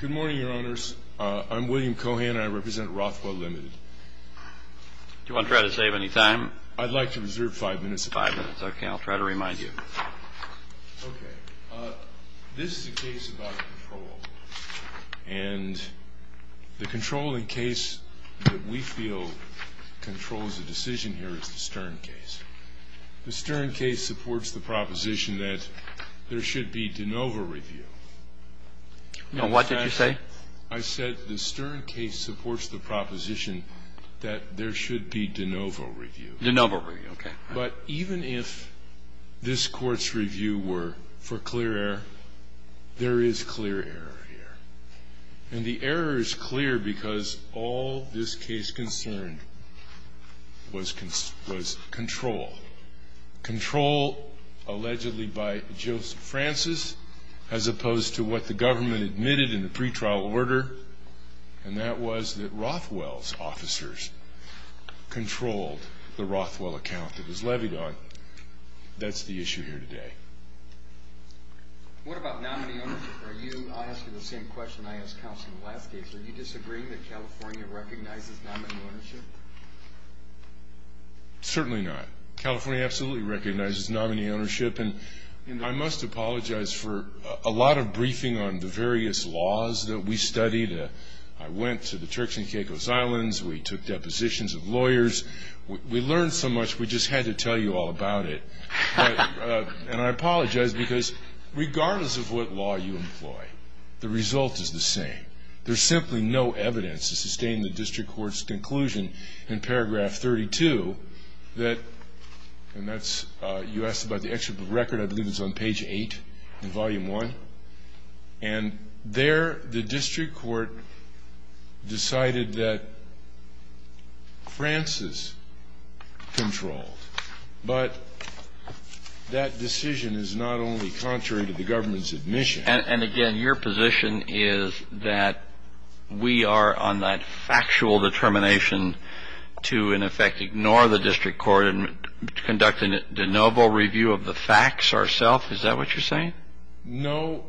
Good morning, Your Honors. I'm William Cohan, and I represent Rothwell, Ltd. Do you want to try to save any time? I'd like to reserve five minutes. Five minutes. Okay. I'll try to remind you. Okay. This is a case about control. And the controlling case that we feel controls the decision here is the Stern case. The Stern case supports the proposition that there should be de novo review. Now, what did you say? I said the Stern case supports the proposition that there should be de novo review. De novo review. Okay. But even if this Court's review were for clear error, there is clear error here. And the error is clear because all this case concerned was control. Control allegedly by Joseph Francis as opposed to what the government admitted in the pretrial order, and that was that Rothwell's officers controlled the Rothwell account that was levied on. That's the issue here today. What about nominee ownership? I'll ask you the same question I asked counsel in the last case. Are you disagreeing that California recognizes nominee ownership? Certainly not. California absolutely recognizes nominee ownership. And I must apologize for a lot of briefing on the various laws that we studied. I went to the Turks and Caicos Islands. We took depositions of lawyers. We learned so much we just had to tell you all about it. And I apologize because regardless of what law you employ, the result is the same. There's simply no evidence to sustain the district court's conclusion in paragraph 32 that, and that's you asked about the excerpt of the record. I believe it's on page 8 in volume 1. And there the district court decided that Francis controlled. But that decision is not only contrary to the government's admission. And, again, your position is that we are on that factual determination to, in effect, ignore the district court and conduct a de novo review of the facts ourself? Is that what you're saying? No.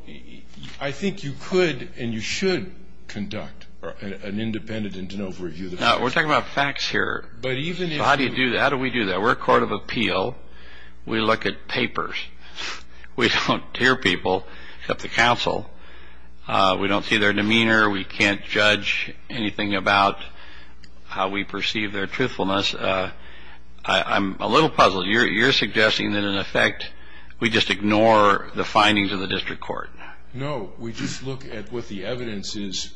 I think you could and you should conduct an independent and de novo review. Now, we're talking about facts here. But even if you do that. How do we do that? We're a court of appeal. We look at papers. We don't hear people except the counsel. We don't see their demeanor. We can't judge anything about how we perceive their truthfulness. I'm a little puzzled. You're suggesting that, in effect, we just ignore the findings of the district court. No. We just look at what the evidence is.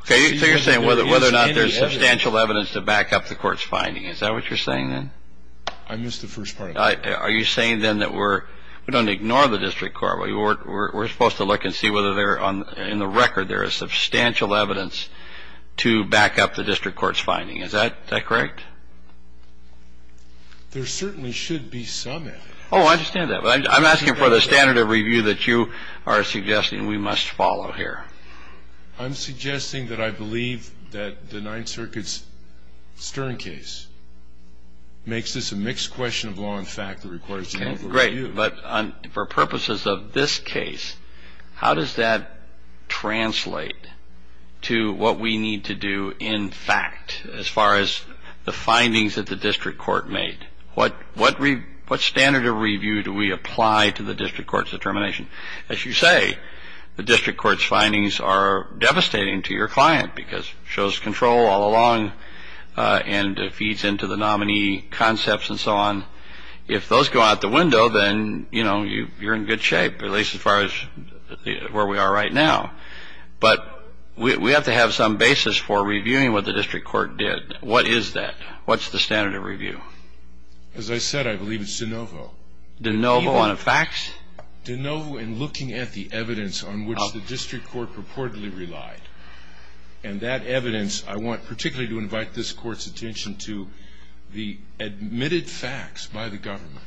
Okay. So you're saying whether or not there's substantial evidence to back up the court's finding. Is that what you're saying then? I missed the first part. Are you saying then that we're going to ignore the district court? We're supposed to look and see whether there are, in the record, there is substantial evidence to back up the district court's finding. Is that correct? There certainly should be some evidence. Oh, I understand that. But I'm asking for the standard of review that you are suggesting we must follow here. I'm suggesting that I believe that the Ninth Circuit's Stern case makes this a mixed question of law Great. But for purposes of this case, how does that translate to what we need to do, in fact, as far as the findings that the district court made? What standard of review do we apply to the district court's determination? As you say, the district court's findings are devastating to your client because it shows control all along and feeds into the nominee concepts and so on. If those go out the window, then, you know, you're in good shape, at least as far as where we are right now. But we have to have some basis for reviewing what the district court did. What is that? What's the standard of review? As I said, I believe it's de novo. De novo on facts? De novo in looking at the evidence on which the district court purportedly relied. And that evidence, I want particularly to invite this Court's attention to the admitted facts by the government.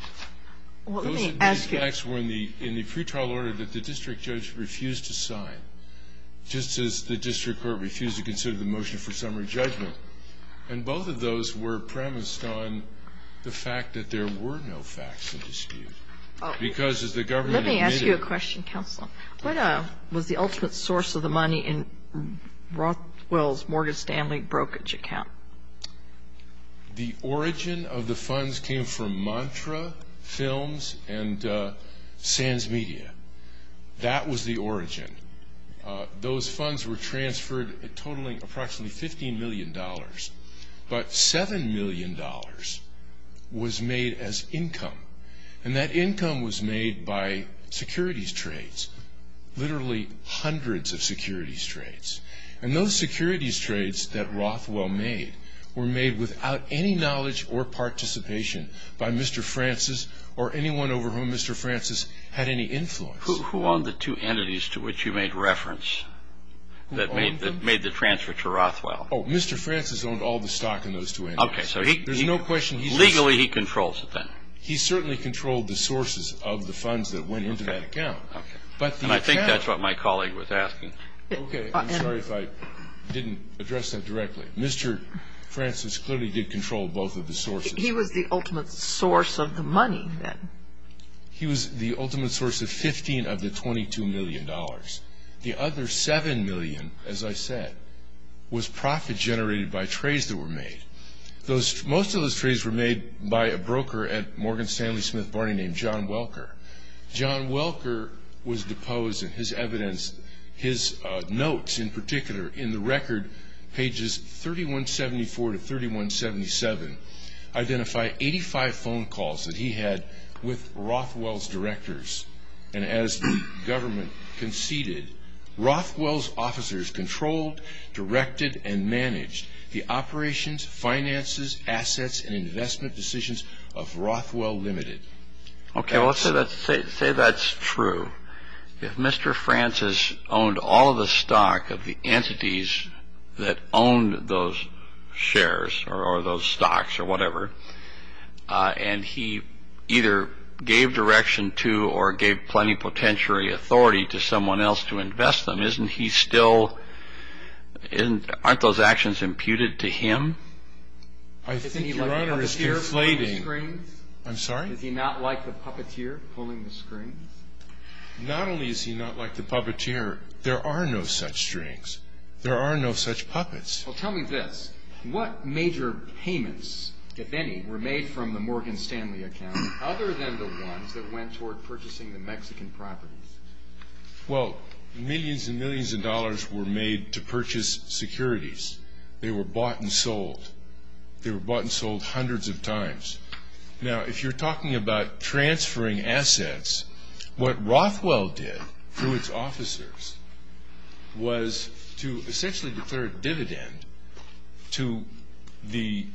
Those admitted facts were in the pretrial order that the district judge refused to sign, just as the district court refused to consider the motion for summary judgment. And both of those were premised on the fact that there were no facts in dispute. Because as the government admitted it. Let me ask you a question, Counsel. What was the ultimate source of the money in Rothwell's Morgan Stanley brokerage account? The origin of the funds came from Mantra Films and SANS Media. That was the origin. Those funds were transferred totaling approximately $15 million. But $7 million was made as income. And that income was made by securities trades. Literally hundreds of securities trades. And those securities trades that Rothwell made were made without any knowledge or participation by Mr. Francis or anyone over whom Mr. Francis had any influence. Who owned the two entities to which you made reference that made the transfer to Rothwell? Oh, Mr. Francis owned all the stock in those two entities. Okay, so legally he controls it then? He certainly controlled the sources of the funds that went into that account. Okay. And I think that's what my colleague was asking. Okay. I'm sorry if I didn't address that directly. Mr. Francis clearly did control both of the sources. He was the ultimate source of the money then. He was the ultimate source of 15 of the $22 million. The other $7 million, as I said, was profit generated by trades that were made. Most of those trades were made by a broker at Morgan Stanley Smith Barney named John Welker. John Welker was deposed, and his evidence, his notes in particular, in the record, pages 3174 to 3177, identify 85 phone calls that he had with Rothwell's directors. And as the government conceded, Rothwell's officers controlled, directed, and managed the operations, finances, assets, and investment decisions of Rothwell Limited. Okay, well, let's say that's true. If Mr. Francis owned all the stock of the entities that owned those shares or those stocks or whatever, and he either gave direction to or gave plenty of potential authority to someone else to invest them, isn't he still – aren't those actions imputed to him? I think Your Honor is conflating. I'm sorry? Is he not like the puppeteer pulling the strings? Not only is he not like the puppeteer, there are no such strings. There are no such puppets. Well, tell me this. What major payments, if any, were made from the Morgan Stanley account other than the ones that went toward purchasing the Mexican properties? Well, millions and millions of dollars were made to purchase securities. They were bought and sold. They were bought and sold hundreds of times. Now, if you're talking about transferring assets, what Rothwell did through its officers was to essentially declare a dividend to the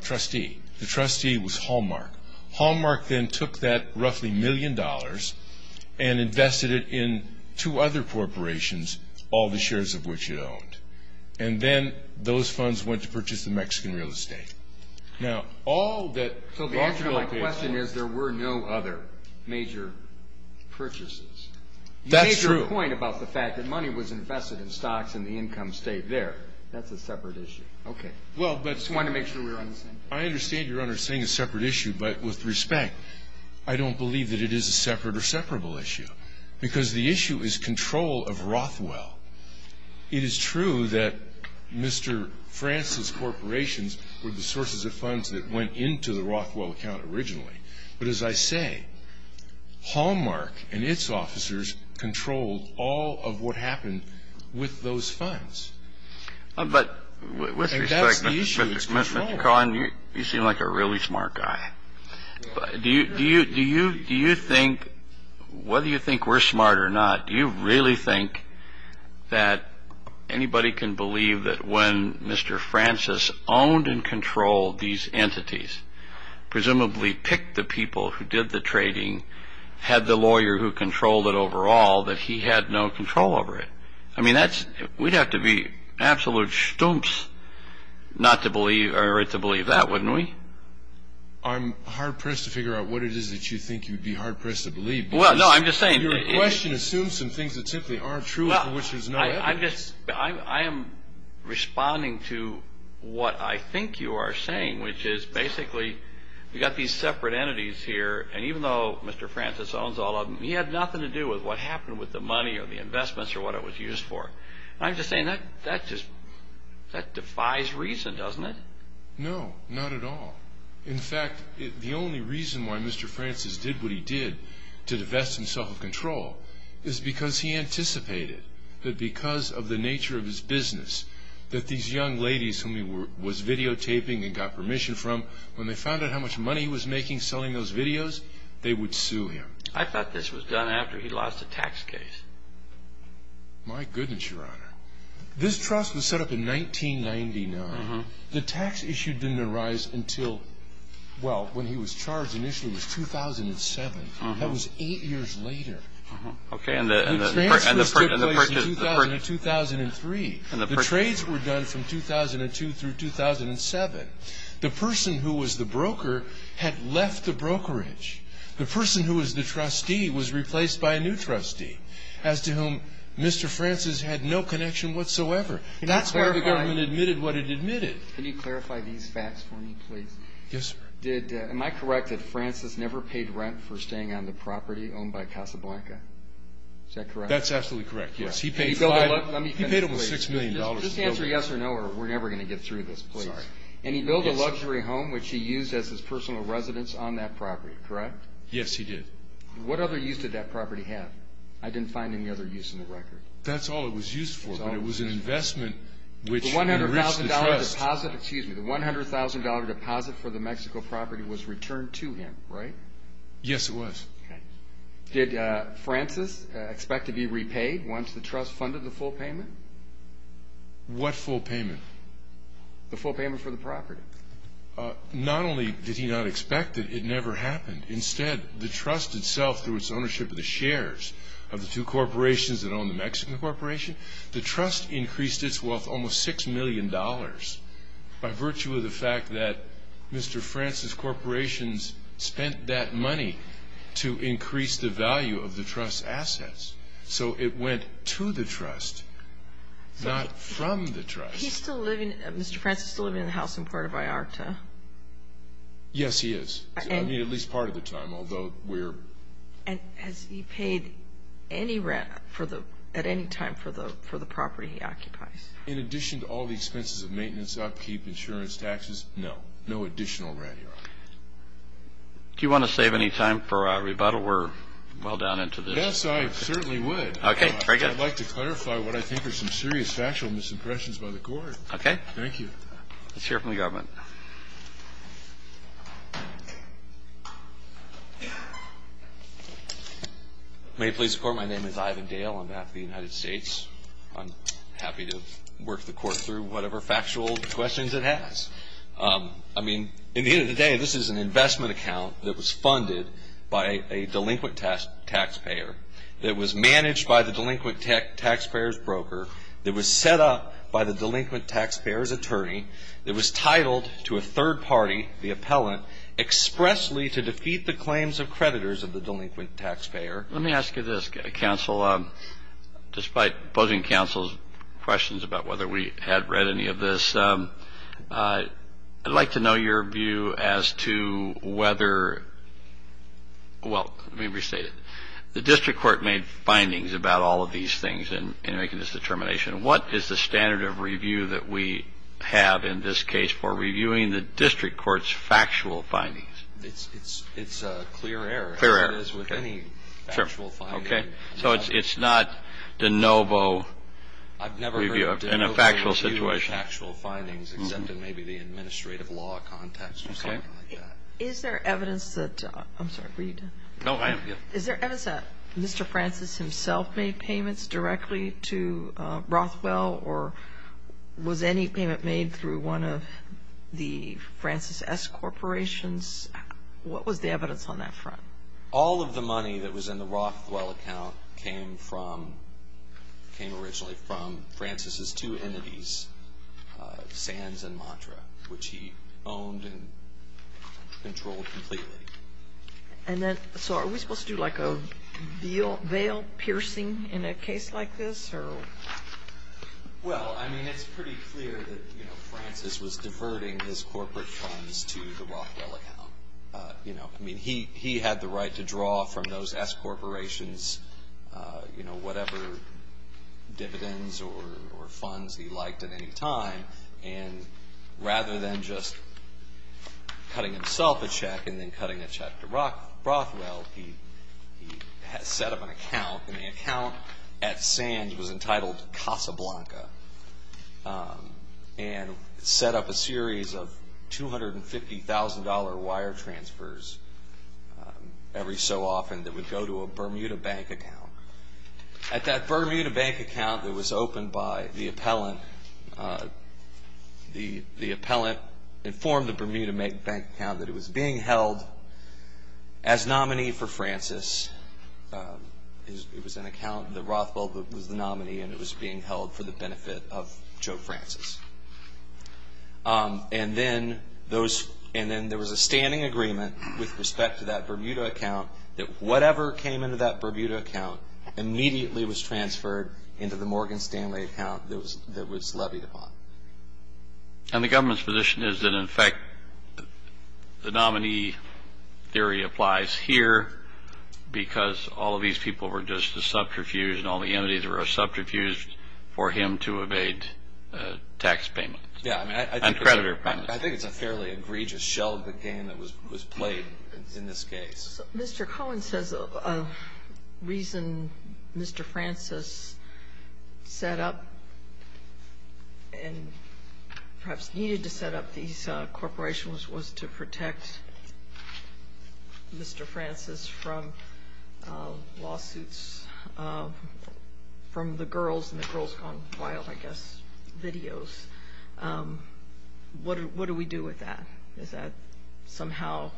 trustee. The trustee was Hallmark. Hallmark then took that roughly million dollars and invested it in two other corporations, all the shares of which it owned. And then those funds went to purchase the Mexican real estate. So the answer to my question is there were no other major purchases. That's true. You made your point about the fact that money was invested in stocks and the income stayed there. That's a separate issue. Okay. I just wanted to make sure we were on the same page. I understand Your Honor saying a separate issue, but with respect, I don't believe that it is a separate or separable issue because the issue is control of Rothwell. It is true that Mr. France's corporations were the sources of funds that went into the Rothwell account originally. But as I say, Hallmark and its officers controlled all of what happened with those funds. But with respect, Mr. Cohen, you seem like a really smart guy. Do you think, whether you think we're smart or not, do you really think that anybody can believe that when Mr. Francis owned and controlled these entities, presumably picked the people who did the trading, had the lawyer who controlled it overall, that he had no control over it? I mean, we'd have to be absolute schtumps to believe that, wouldn't we? I'm hard-pressed to figure out what it is that you think you'd be hard-pressed to believe. Your question assumes some things that simply aren't true and for which there's no evidence. I am responding to what I think you are saying, which is basically we've got these separate entities here, and even though Mr. Francis owns all of them, he had nothing to do with what happened with the money or the investments or what it was used for. I'm just saying that defies reason, doesn't it? No, not at all. In fact, the only reason why Mr. Francis did what he did to divest himself of control is because he anticipated that because of the nature of his business, that these young ladies whom he was videotaping and got permission from, when they found out how much money he was making selling those videos, they would sue him. I thought this was done after he lost a tax case. My goodness, Your Honor. This trust was set up in 1999. The tax issue didn't arise until, well, when he was charged initially was 2007. That was eight years later. Okay. The transfer took place in 2000 and 2003. The trades were done from 2002 through 2007. The person who was the broker had left the brokerage. The person who was the trustee was replaced by a new trustee, as to whom Mr. Francis had no connection whatsoever. That's why the government admitted what it admitted. Can you clarify these facts for me, please? Yes, sir. Am I correct that Francis never paid rent for staying on the property owned by Casablanca? Is that correct? That's absolutely correct, yes. He paid over $6 million to build it. Just answer yes or no, or we're never going to get through this, please. And he built a luxury home, which he used as his personal residence on that property, correct? Yes, he did. What other use did that property have? I didn't find any other use in the record. That's all it was used for, but it was an investment which enriched the trust. The $100,000 deposit for the Mexico property was returned to him, right? Yes, it was. Did Francis expect to be repaid once the trust funded the full payment? What full payment? The full payment for the property. Not only did he not expect it, it never happened. Instead, the trust itself, through its ownership of the shares of the two corporations that own the Mexican corporation, the trust increased its wealth almost $6 million by virtue of the fact that Mr. Francis' corporations spent that money to increase the value of the trust's assets. So it went to the trust, not from the trust. Mr. Francis is still living in the house in Puerto Vallarta. Yes, he is. I mean, at least part of the time, although we're... And has he paid any rent at any time for the property he occupies? In addition to all the expenses of maintenance, upkeep, insurance, taxes, no. No additional rent. Do you want to save any time for a rebuttal? We're well down into this. Yes, I certainly would. Okay, very good. I'd like to clarify what I think are some serious factual misimpressions by the court. Okay. Thank you. Let's hear from the government. May it please the court, my name is Ivan Dale on behalf of the United States. I'm happy to work the court through whatever factual questions it has. I mean, at the end of the day, this is an investment account that was funded by a delinquent taxpayer, that was managed by the delinquent taxpayer's broker, that was set up by the delinquent taxpayer's attorney, that was titled to a third party, the appellant, expressly to defeat the claims of creditors of the delinquent taxpayer. Let me ask you this, counsel. Despite opposing counsel's questions about whether we had read any of this, I'd like to know your view as to whether, well, let me restate it. The district court made findings about all of these things in making this determination. What is the standard of review that we have in this case for reviewing the district court's factual findings? It's a clear error. Clear error. As with any factual finding. Okay. So it's not de novo review in a factual situation. I've never heard de novo review of factual findings except in maybe the administrative law context or something like that. Okay. Is there evidence that, I'm sorry, were you done? No, I am. Thank you. Is there evidence that Mr. Francis himself made payments directly to Rothwell or was any payment made through one of the Francis S. corporations? What was the evidence on that front? All of the money that was in the Rothwell account came from, came originally from Francis' two entities, Sands and Mantra, which he owned and controlled completely. And then, so are we supposed to do like a veil piercing in a case like this or? Well, I mean, it's pretty clear that, you know, Francis was diverting his corporate funds to the Rothwell account. You know, I mean, he had the right to draw from those S. corporations, you know, whatever dividends or funds he liked at any time. And rather than just cutting himself a check and then cutting a check to Rothwell, he set up an account and the account at Sands was entitled Casablanca and set up a series of $250,000 wire transfers every so often that would go to a Bermuda Bank account. At that Bermuda Bank account that was opened by the appellant, the appellant informed the Bermuda Bank account that it was being held as nominee for Francis. It was an account that Rothwell was the nominee and it was being held for the benefit of Joe Francis. And then there was a standing agreement with respect to that Bermuda account that whatever came into that Bermuda account immediately was transferred into the Morgan Stanley account that was levied upon. And the government's position is that, in fact, the nominee theory applies here because all of these people were just a subterfuge and all the entities were a subterfuge for him to evade tax payments. Yeah, I mean, I think it's a fairly egregious shell of a game that was played in this case. Mr. Cohen says a reason Mr. Francis set up and perhaps needed to set up these corporations was to protect Mr. Francis from lawsuits from the girls and the girls gone wild, I guess, videos. What do we do with that? Does that somehow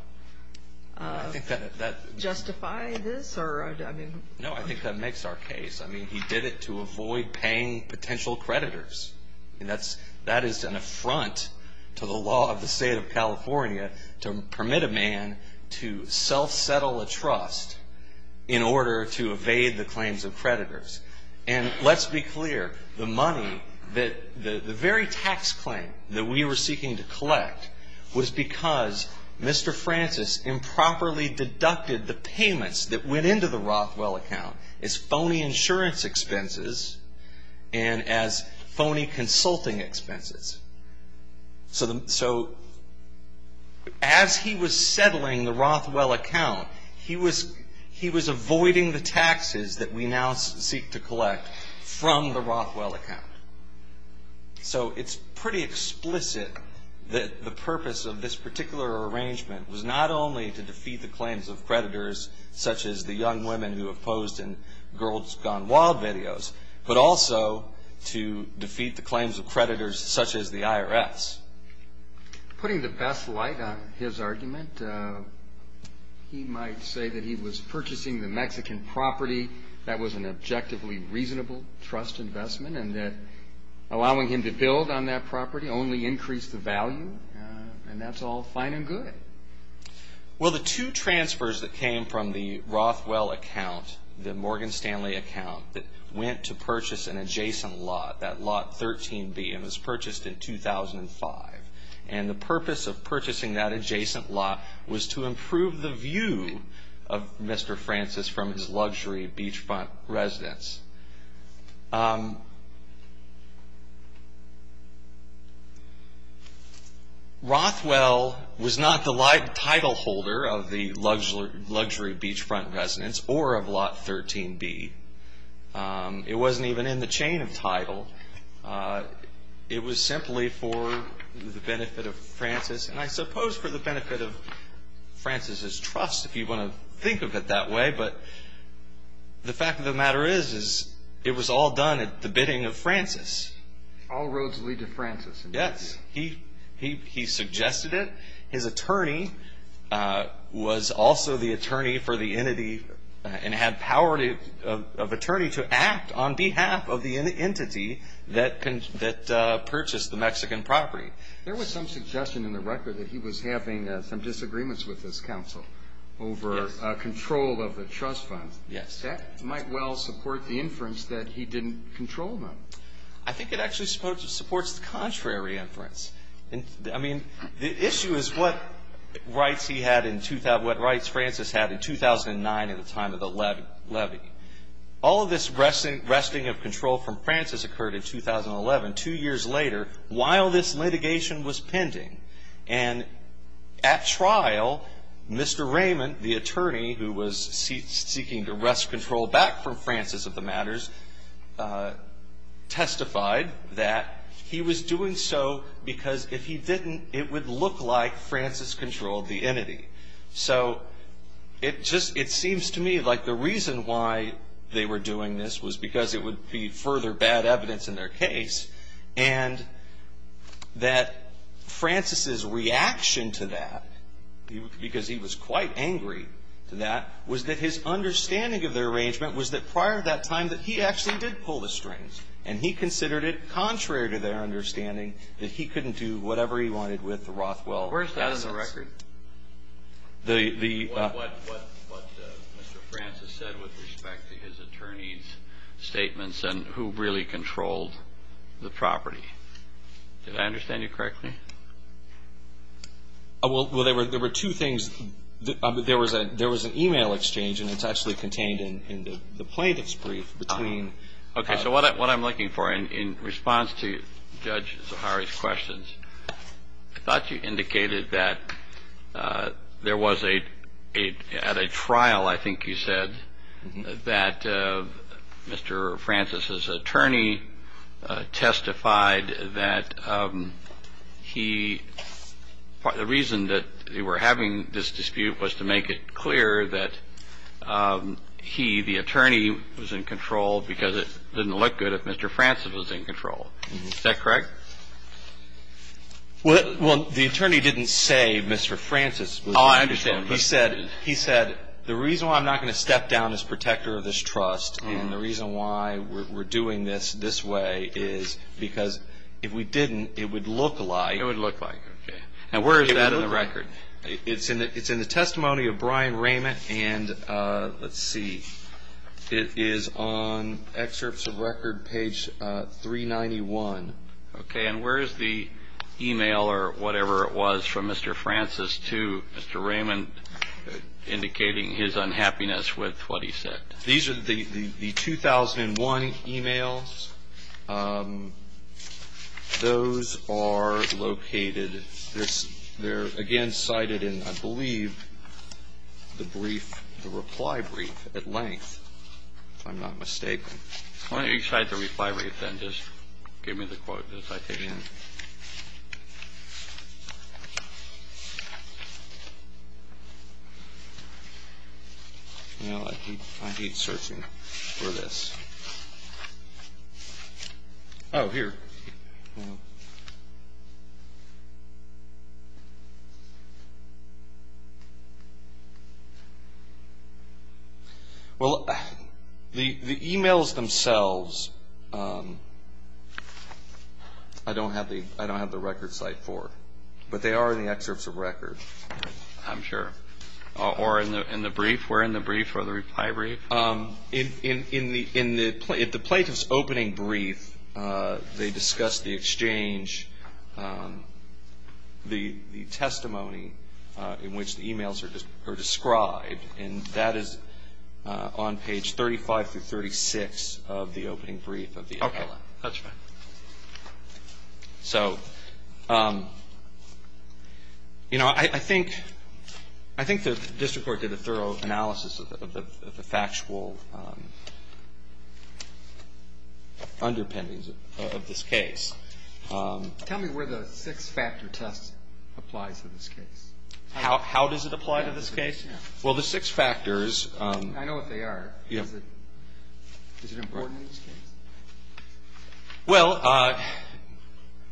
justify this? No, I think that makes our case. I mean, he did it to avoid paying potential creditors. That is an affront to the law of the state of California to permit a man to self-settle a trust in order to evade the claims of creditors. And let's be clear. The money that the very tax claim that we were seeking to collect was because Mr. Francis improperly deducted the payments that went into the Rothwell account as phony insurance expenses and as phony consulting expenses. So as he was settling the Rothwell account, he was avoiding the taxes that we now seek to collect from the Rothwell account. So it's pretty explicit that the purpose of this particular arrangement was not only to defeat the claims of creditors such as the young women who have posed in girls gone wild videos, but also to defeat the claims of creditors such as the IRS. Putting the best light on his argument, he might say that he was purchasing the Mexican property. That was an objectively reasonable trust investment and that allowing him to build on that property only increased the value. And that's all fine and good. Well, the two transfers that came from the Rothwell account, the Morgan Stanley account, that went to purchase an adjacent lot, that lot 13B, and was purchased in 2005. And the purpose of purchasing that adjacent lot was to improve the view of Mr. Francis from his luxury beachfront residence. Rothwell was not the title holder of the luxury beachfront residence or of lot 13B. It wasn't even in the chain of title. It was simply for the benefit of Francis, and I suppose for the benefit of Francis' trust, if you want to think of it that way. But the fact of the matter is, it was all done at the bidding of Francis. All roads lead to Francis. Yes. He suggested it. His attorney was also the attorney for the entity and had power of attorney to act on behalf of the entity that purchased the Mexican property. There was some suggestion in the record that he was having some disagreements with his counsel over control of the trust fund. Yes. That might well support the inference that he didn't control them. I think it actually supports the contrary inference. I mean, the issue is what rights he had in 2000, what rights Francis had in 2009 at the time of the levy. All of this wresting of control from Francis occurred in 2011, two years later, while this litigation was pending. And at trial, Mr. Raymond, the attorney who was seeking to wrest control back from Francis of the matters, testified that he was doing so because if he didn't, it would look like Francis controlled the entity. So it seems to me like the reason why they were doing this was because it would be further bad evidence in their case. And that Francis's reaction to that, because he was quite angry to that, was that his understanding of the arrangement was that prior to that time that he actually did pull the strings. And he considered it contrary to their understanding that he couldn't do whatever he wanted with the Rothwell assets. What Mr. Francis said with respect to his attorney's statements and who really controlled the property. Did I understand you correctly? Well, there were two things. There was an e-mail exchange, and it's actually contained in the plaintiff's brief between. OK, so what I'm looking for in response to Judge Zahari's questions, I thought you indicated that there was a trial. I think you said that Mr. Francis's attorney testified that he. The reason that they were having this dispute was to make it clear that he, the attorney, was in control because it didn't look good if Mr. Francis was in control. Is that correct? Well, the attorney didn't say Mr. Francis. Oh, I understand. He said the reason why I'm not going to step down as protector of this trust and the reason why we're doing this this way is because if we didn't, it would look like. It would look like. And where is that on the record? It's in the testimony of Brian Raymond, and let's see. It is on excerpts of record page 391. OK, and where is the e-mail or whatever it was from Mr. Francis to Mr. Raymond indicating his unhappiness with what he said? These are the 2001 e-mails. Those are located. They're, again, cited in, I believe, the brief, the reply brief at length, if I'm not mistaken. Why don't you cite the reply brief then? Just give me the quote, the citation. Again. I hate searching for this. Oh, here. Well, the e-mails themselves, I don't have the record cite for, but they are in the excerpts of record. I'm sure. Or in the brief? Where in the brief or the reply brief? In the plaintiff's opening brief, they discuss the exchange, the testimony in which the e-mails are described, and that is on page 35 through 36 of the opening brief of the appellate. OK, that's fine. So, you know, I think the district court did a thorough analysis of the factual underpinnings of this case. Tell me where the six-factor test applies to this case. How does it apply to this case? Well, the six factors. I know what they are. Is it important in this case? Well,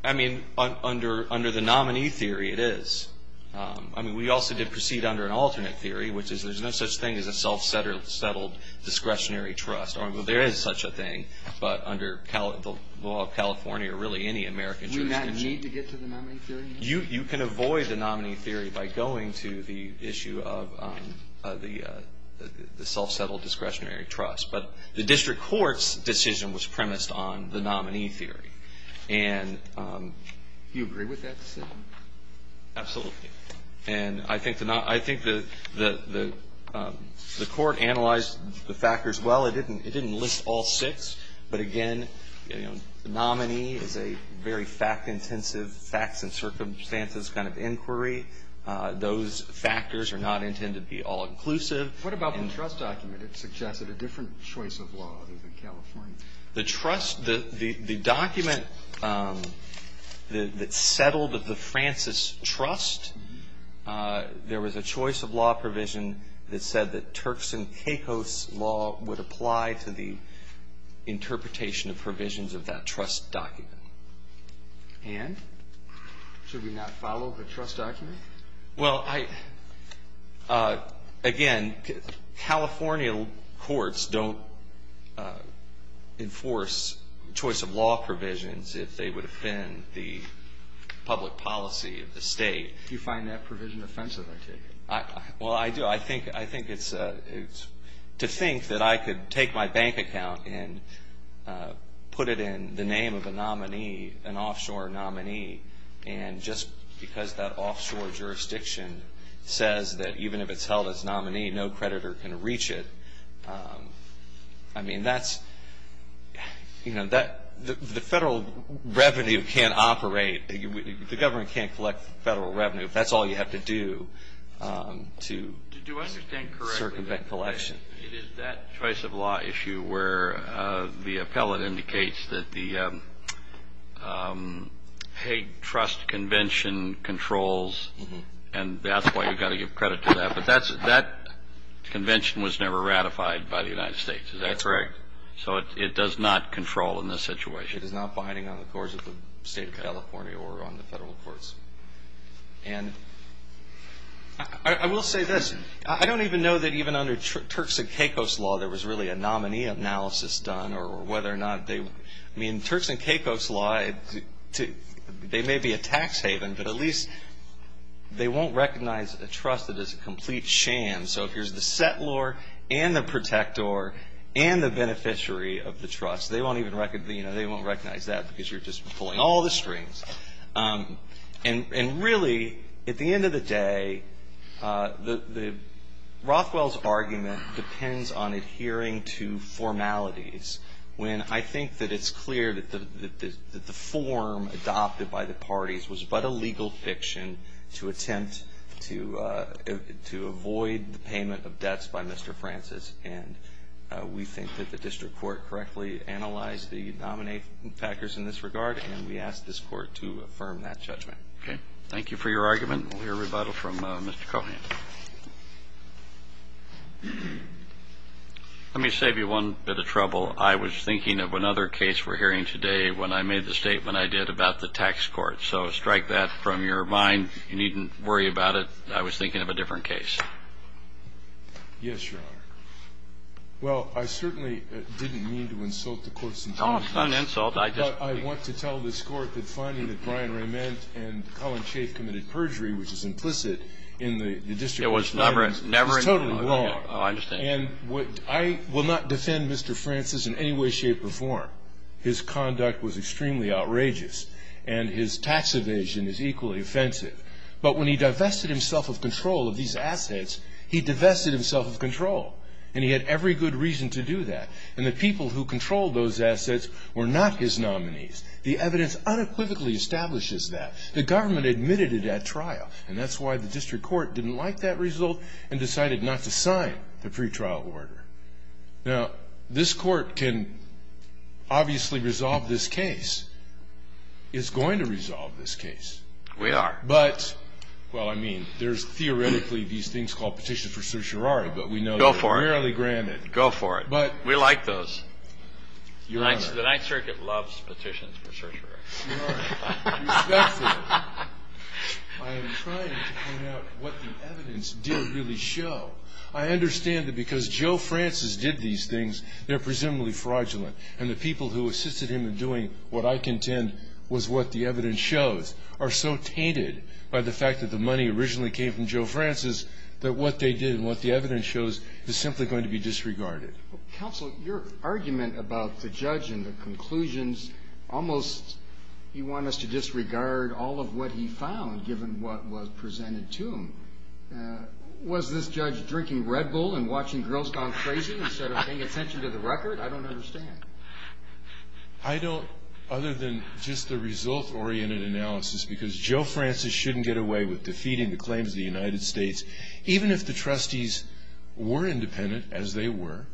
I mean, under the nominee theory, it is. I mean, we also did proceed under an alternate theory, which is there's no such thing as a self-settled discretionary trust. I mean, there is such a thing, but under the law of California or really any American jurisdiction. Do we not need to get to the nominee theory? You can avoid the nominee theory by going to the issue of the self-settled discretionary trust. But the district court's decision was premised on the nominee theory. Do you agree with that decision? Absolutely. And I think the court analyzed the factors well. It didn't list all six. But again, nominee is a very fact-intensive, facts and circumstances kind of inquiry. Those factors are not intended to be all-inclusive. What about the trust document? It suggested a different choice of law other than California. The trust, the document that settled the Francis Trust, there was a choice of law provision that said that Turks and Caicos law would apply to the interpretation of provisions of that trust document. And? Should we not follow the trust document? Well, again, California courts don't enforce choice of law provisions if they would offend the public policy of the state. You find that provision offensive, I take it. Well, I do. I think it's to think that I could take my bank account and put it in the name of a nominee, an offshore nominee, and just because that offshore jurisdiction says that even if it's held as nominee, no creditor can reach it. I mean, that's, you know, the federal revenue can't operate. The government can't collect federal revenue if that's all you have to do to circumvent collection. It is that choice of law issue where the appellate indicates that the Hague Trust Convention controls, and that's why you've got to give credit to that. But that convention was never ratified by the United States. Is that correct? That's correct. So it does not control in this situation. It is not binding on the courts of the state of California or on the federal courts. And I will say this, I don't even know that even under Turks and Caicos law there was really a nominee analysis done or whether or not they – I mean, Turks and Caicos law, they may be a tax haven, but at least they won't recognize a trust that is a complete sham. So if there's the settlor and the protector and the beneficiary of the trust, they won't even recognize that because you're just pulling all the strings. And really, at the end of the day, Rothwell's argument depends on adhering to formalities when I think that it's clear that the form adopted by the parties was but a legal fiction to attempt to avoid the payment of debts by Mr. Francis. And we think that the district court correctly analyzed the nominee factors in this regard, and we ask this Court to affirm that judgment. Okay. Thank you for your argument. We'll hear rebuttal from Mr. Cohan. Let me save you one bit of trouble. I was thinking of another case we're hearing today when I made the statement I did about the tax court. So strike that from your mind. You needn't worry about it. I was thinking of a different case. Yes, Your Honor. Oh, it's not an insult. I want to tell this Court that finding that Brian Rayment and Colin Schaaf committed perjury, which is implicit in the district court's findings is totally wrong. I understand. And I will not defend Mr. Francis in any way, shape or form. His conduct was extremely outrageous, and his tax evasion is equally offensive. But when he divested himself of control of these assets, he divested himself of control, and he had every good reason to do that. And the people who controlled those assets were not his nominees. The evidence unequivocally establishes that. The government admitted it at trial, and that's why the district court didn't like that result and decided not to sign the pretrial order. Now, this Court can obviously resolve this case. It's going to resolve this case. We are. But, well, I mean, there's theoretically these things called petitions for certiorari, but we know they're rarely granted. Go for it. We like those. Your Honor. The Ninth Circuit loves petitions for certiorari. Your Honor. I am trying to point out what the evidence did really show. I understand that because Joe Francis did these things, they're presumably fraudulent. And the people who assisted him in doing what I contend was what the evidence shows are so tainted by the fact that the money originally came from Joe Francis that what they did and what the evidence shows is simply going to be disregarded. Counsel, your argument about the judge and the conclusions, almost you want us to disregard all of what he found given what was presented to him. Was this judge drinking Red Bull and watching girls go crazy instead of paying attention to the record? I don't understand. I don't, other than just the result-oriented analysis, because Joe Francis shouldn't get away with defeating the claims of the United States. Even if the trustees were independent, as they were,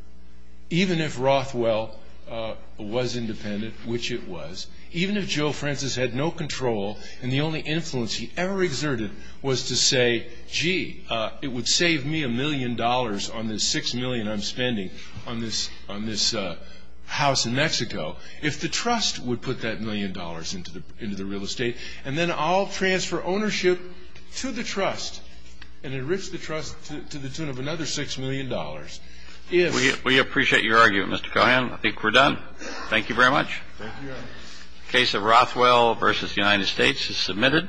even if Rothwell was independent, which it was, even if Joe Francis had no control and the only influence he ever exerted was to say, gee, it would save me a million dollars on this $6 million I'm spending on this house in Mexico, if the trust would put that million dollars into the real estate, and then I'll transfer ownership to the trust and enrich the trust to the tune of another $6 million. We appreciate your argument, Mr. Cohan. I think we're done. Thank you very much. Thank you, Your Honor. The case of Rothwell v. United States is submitted.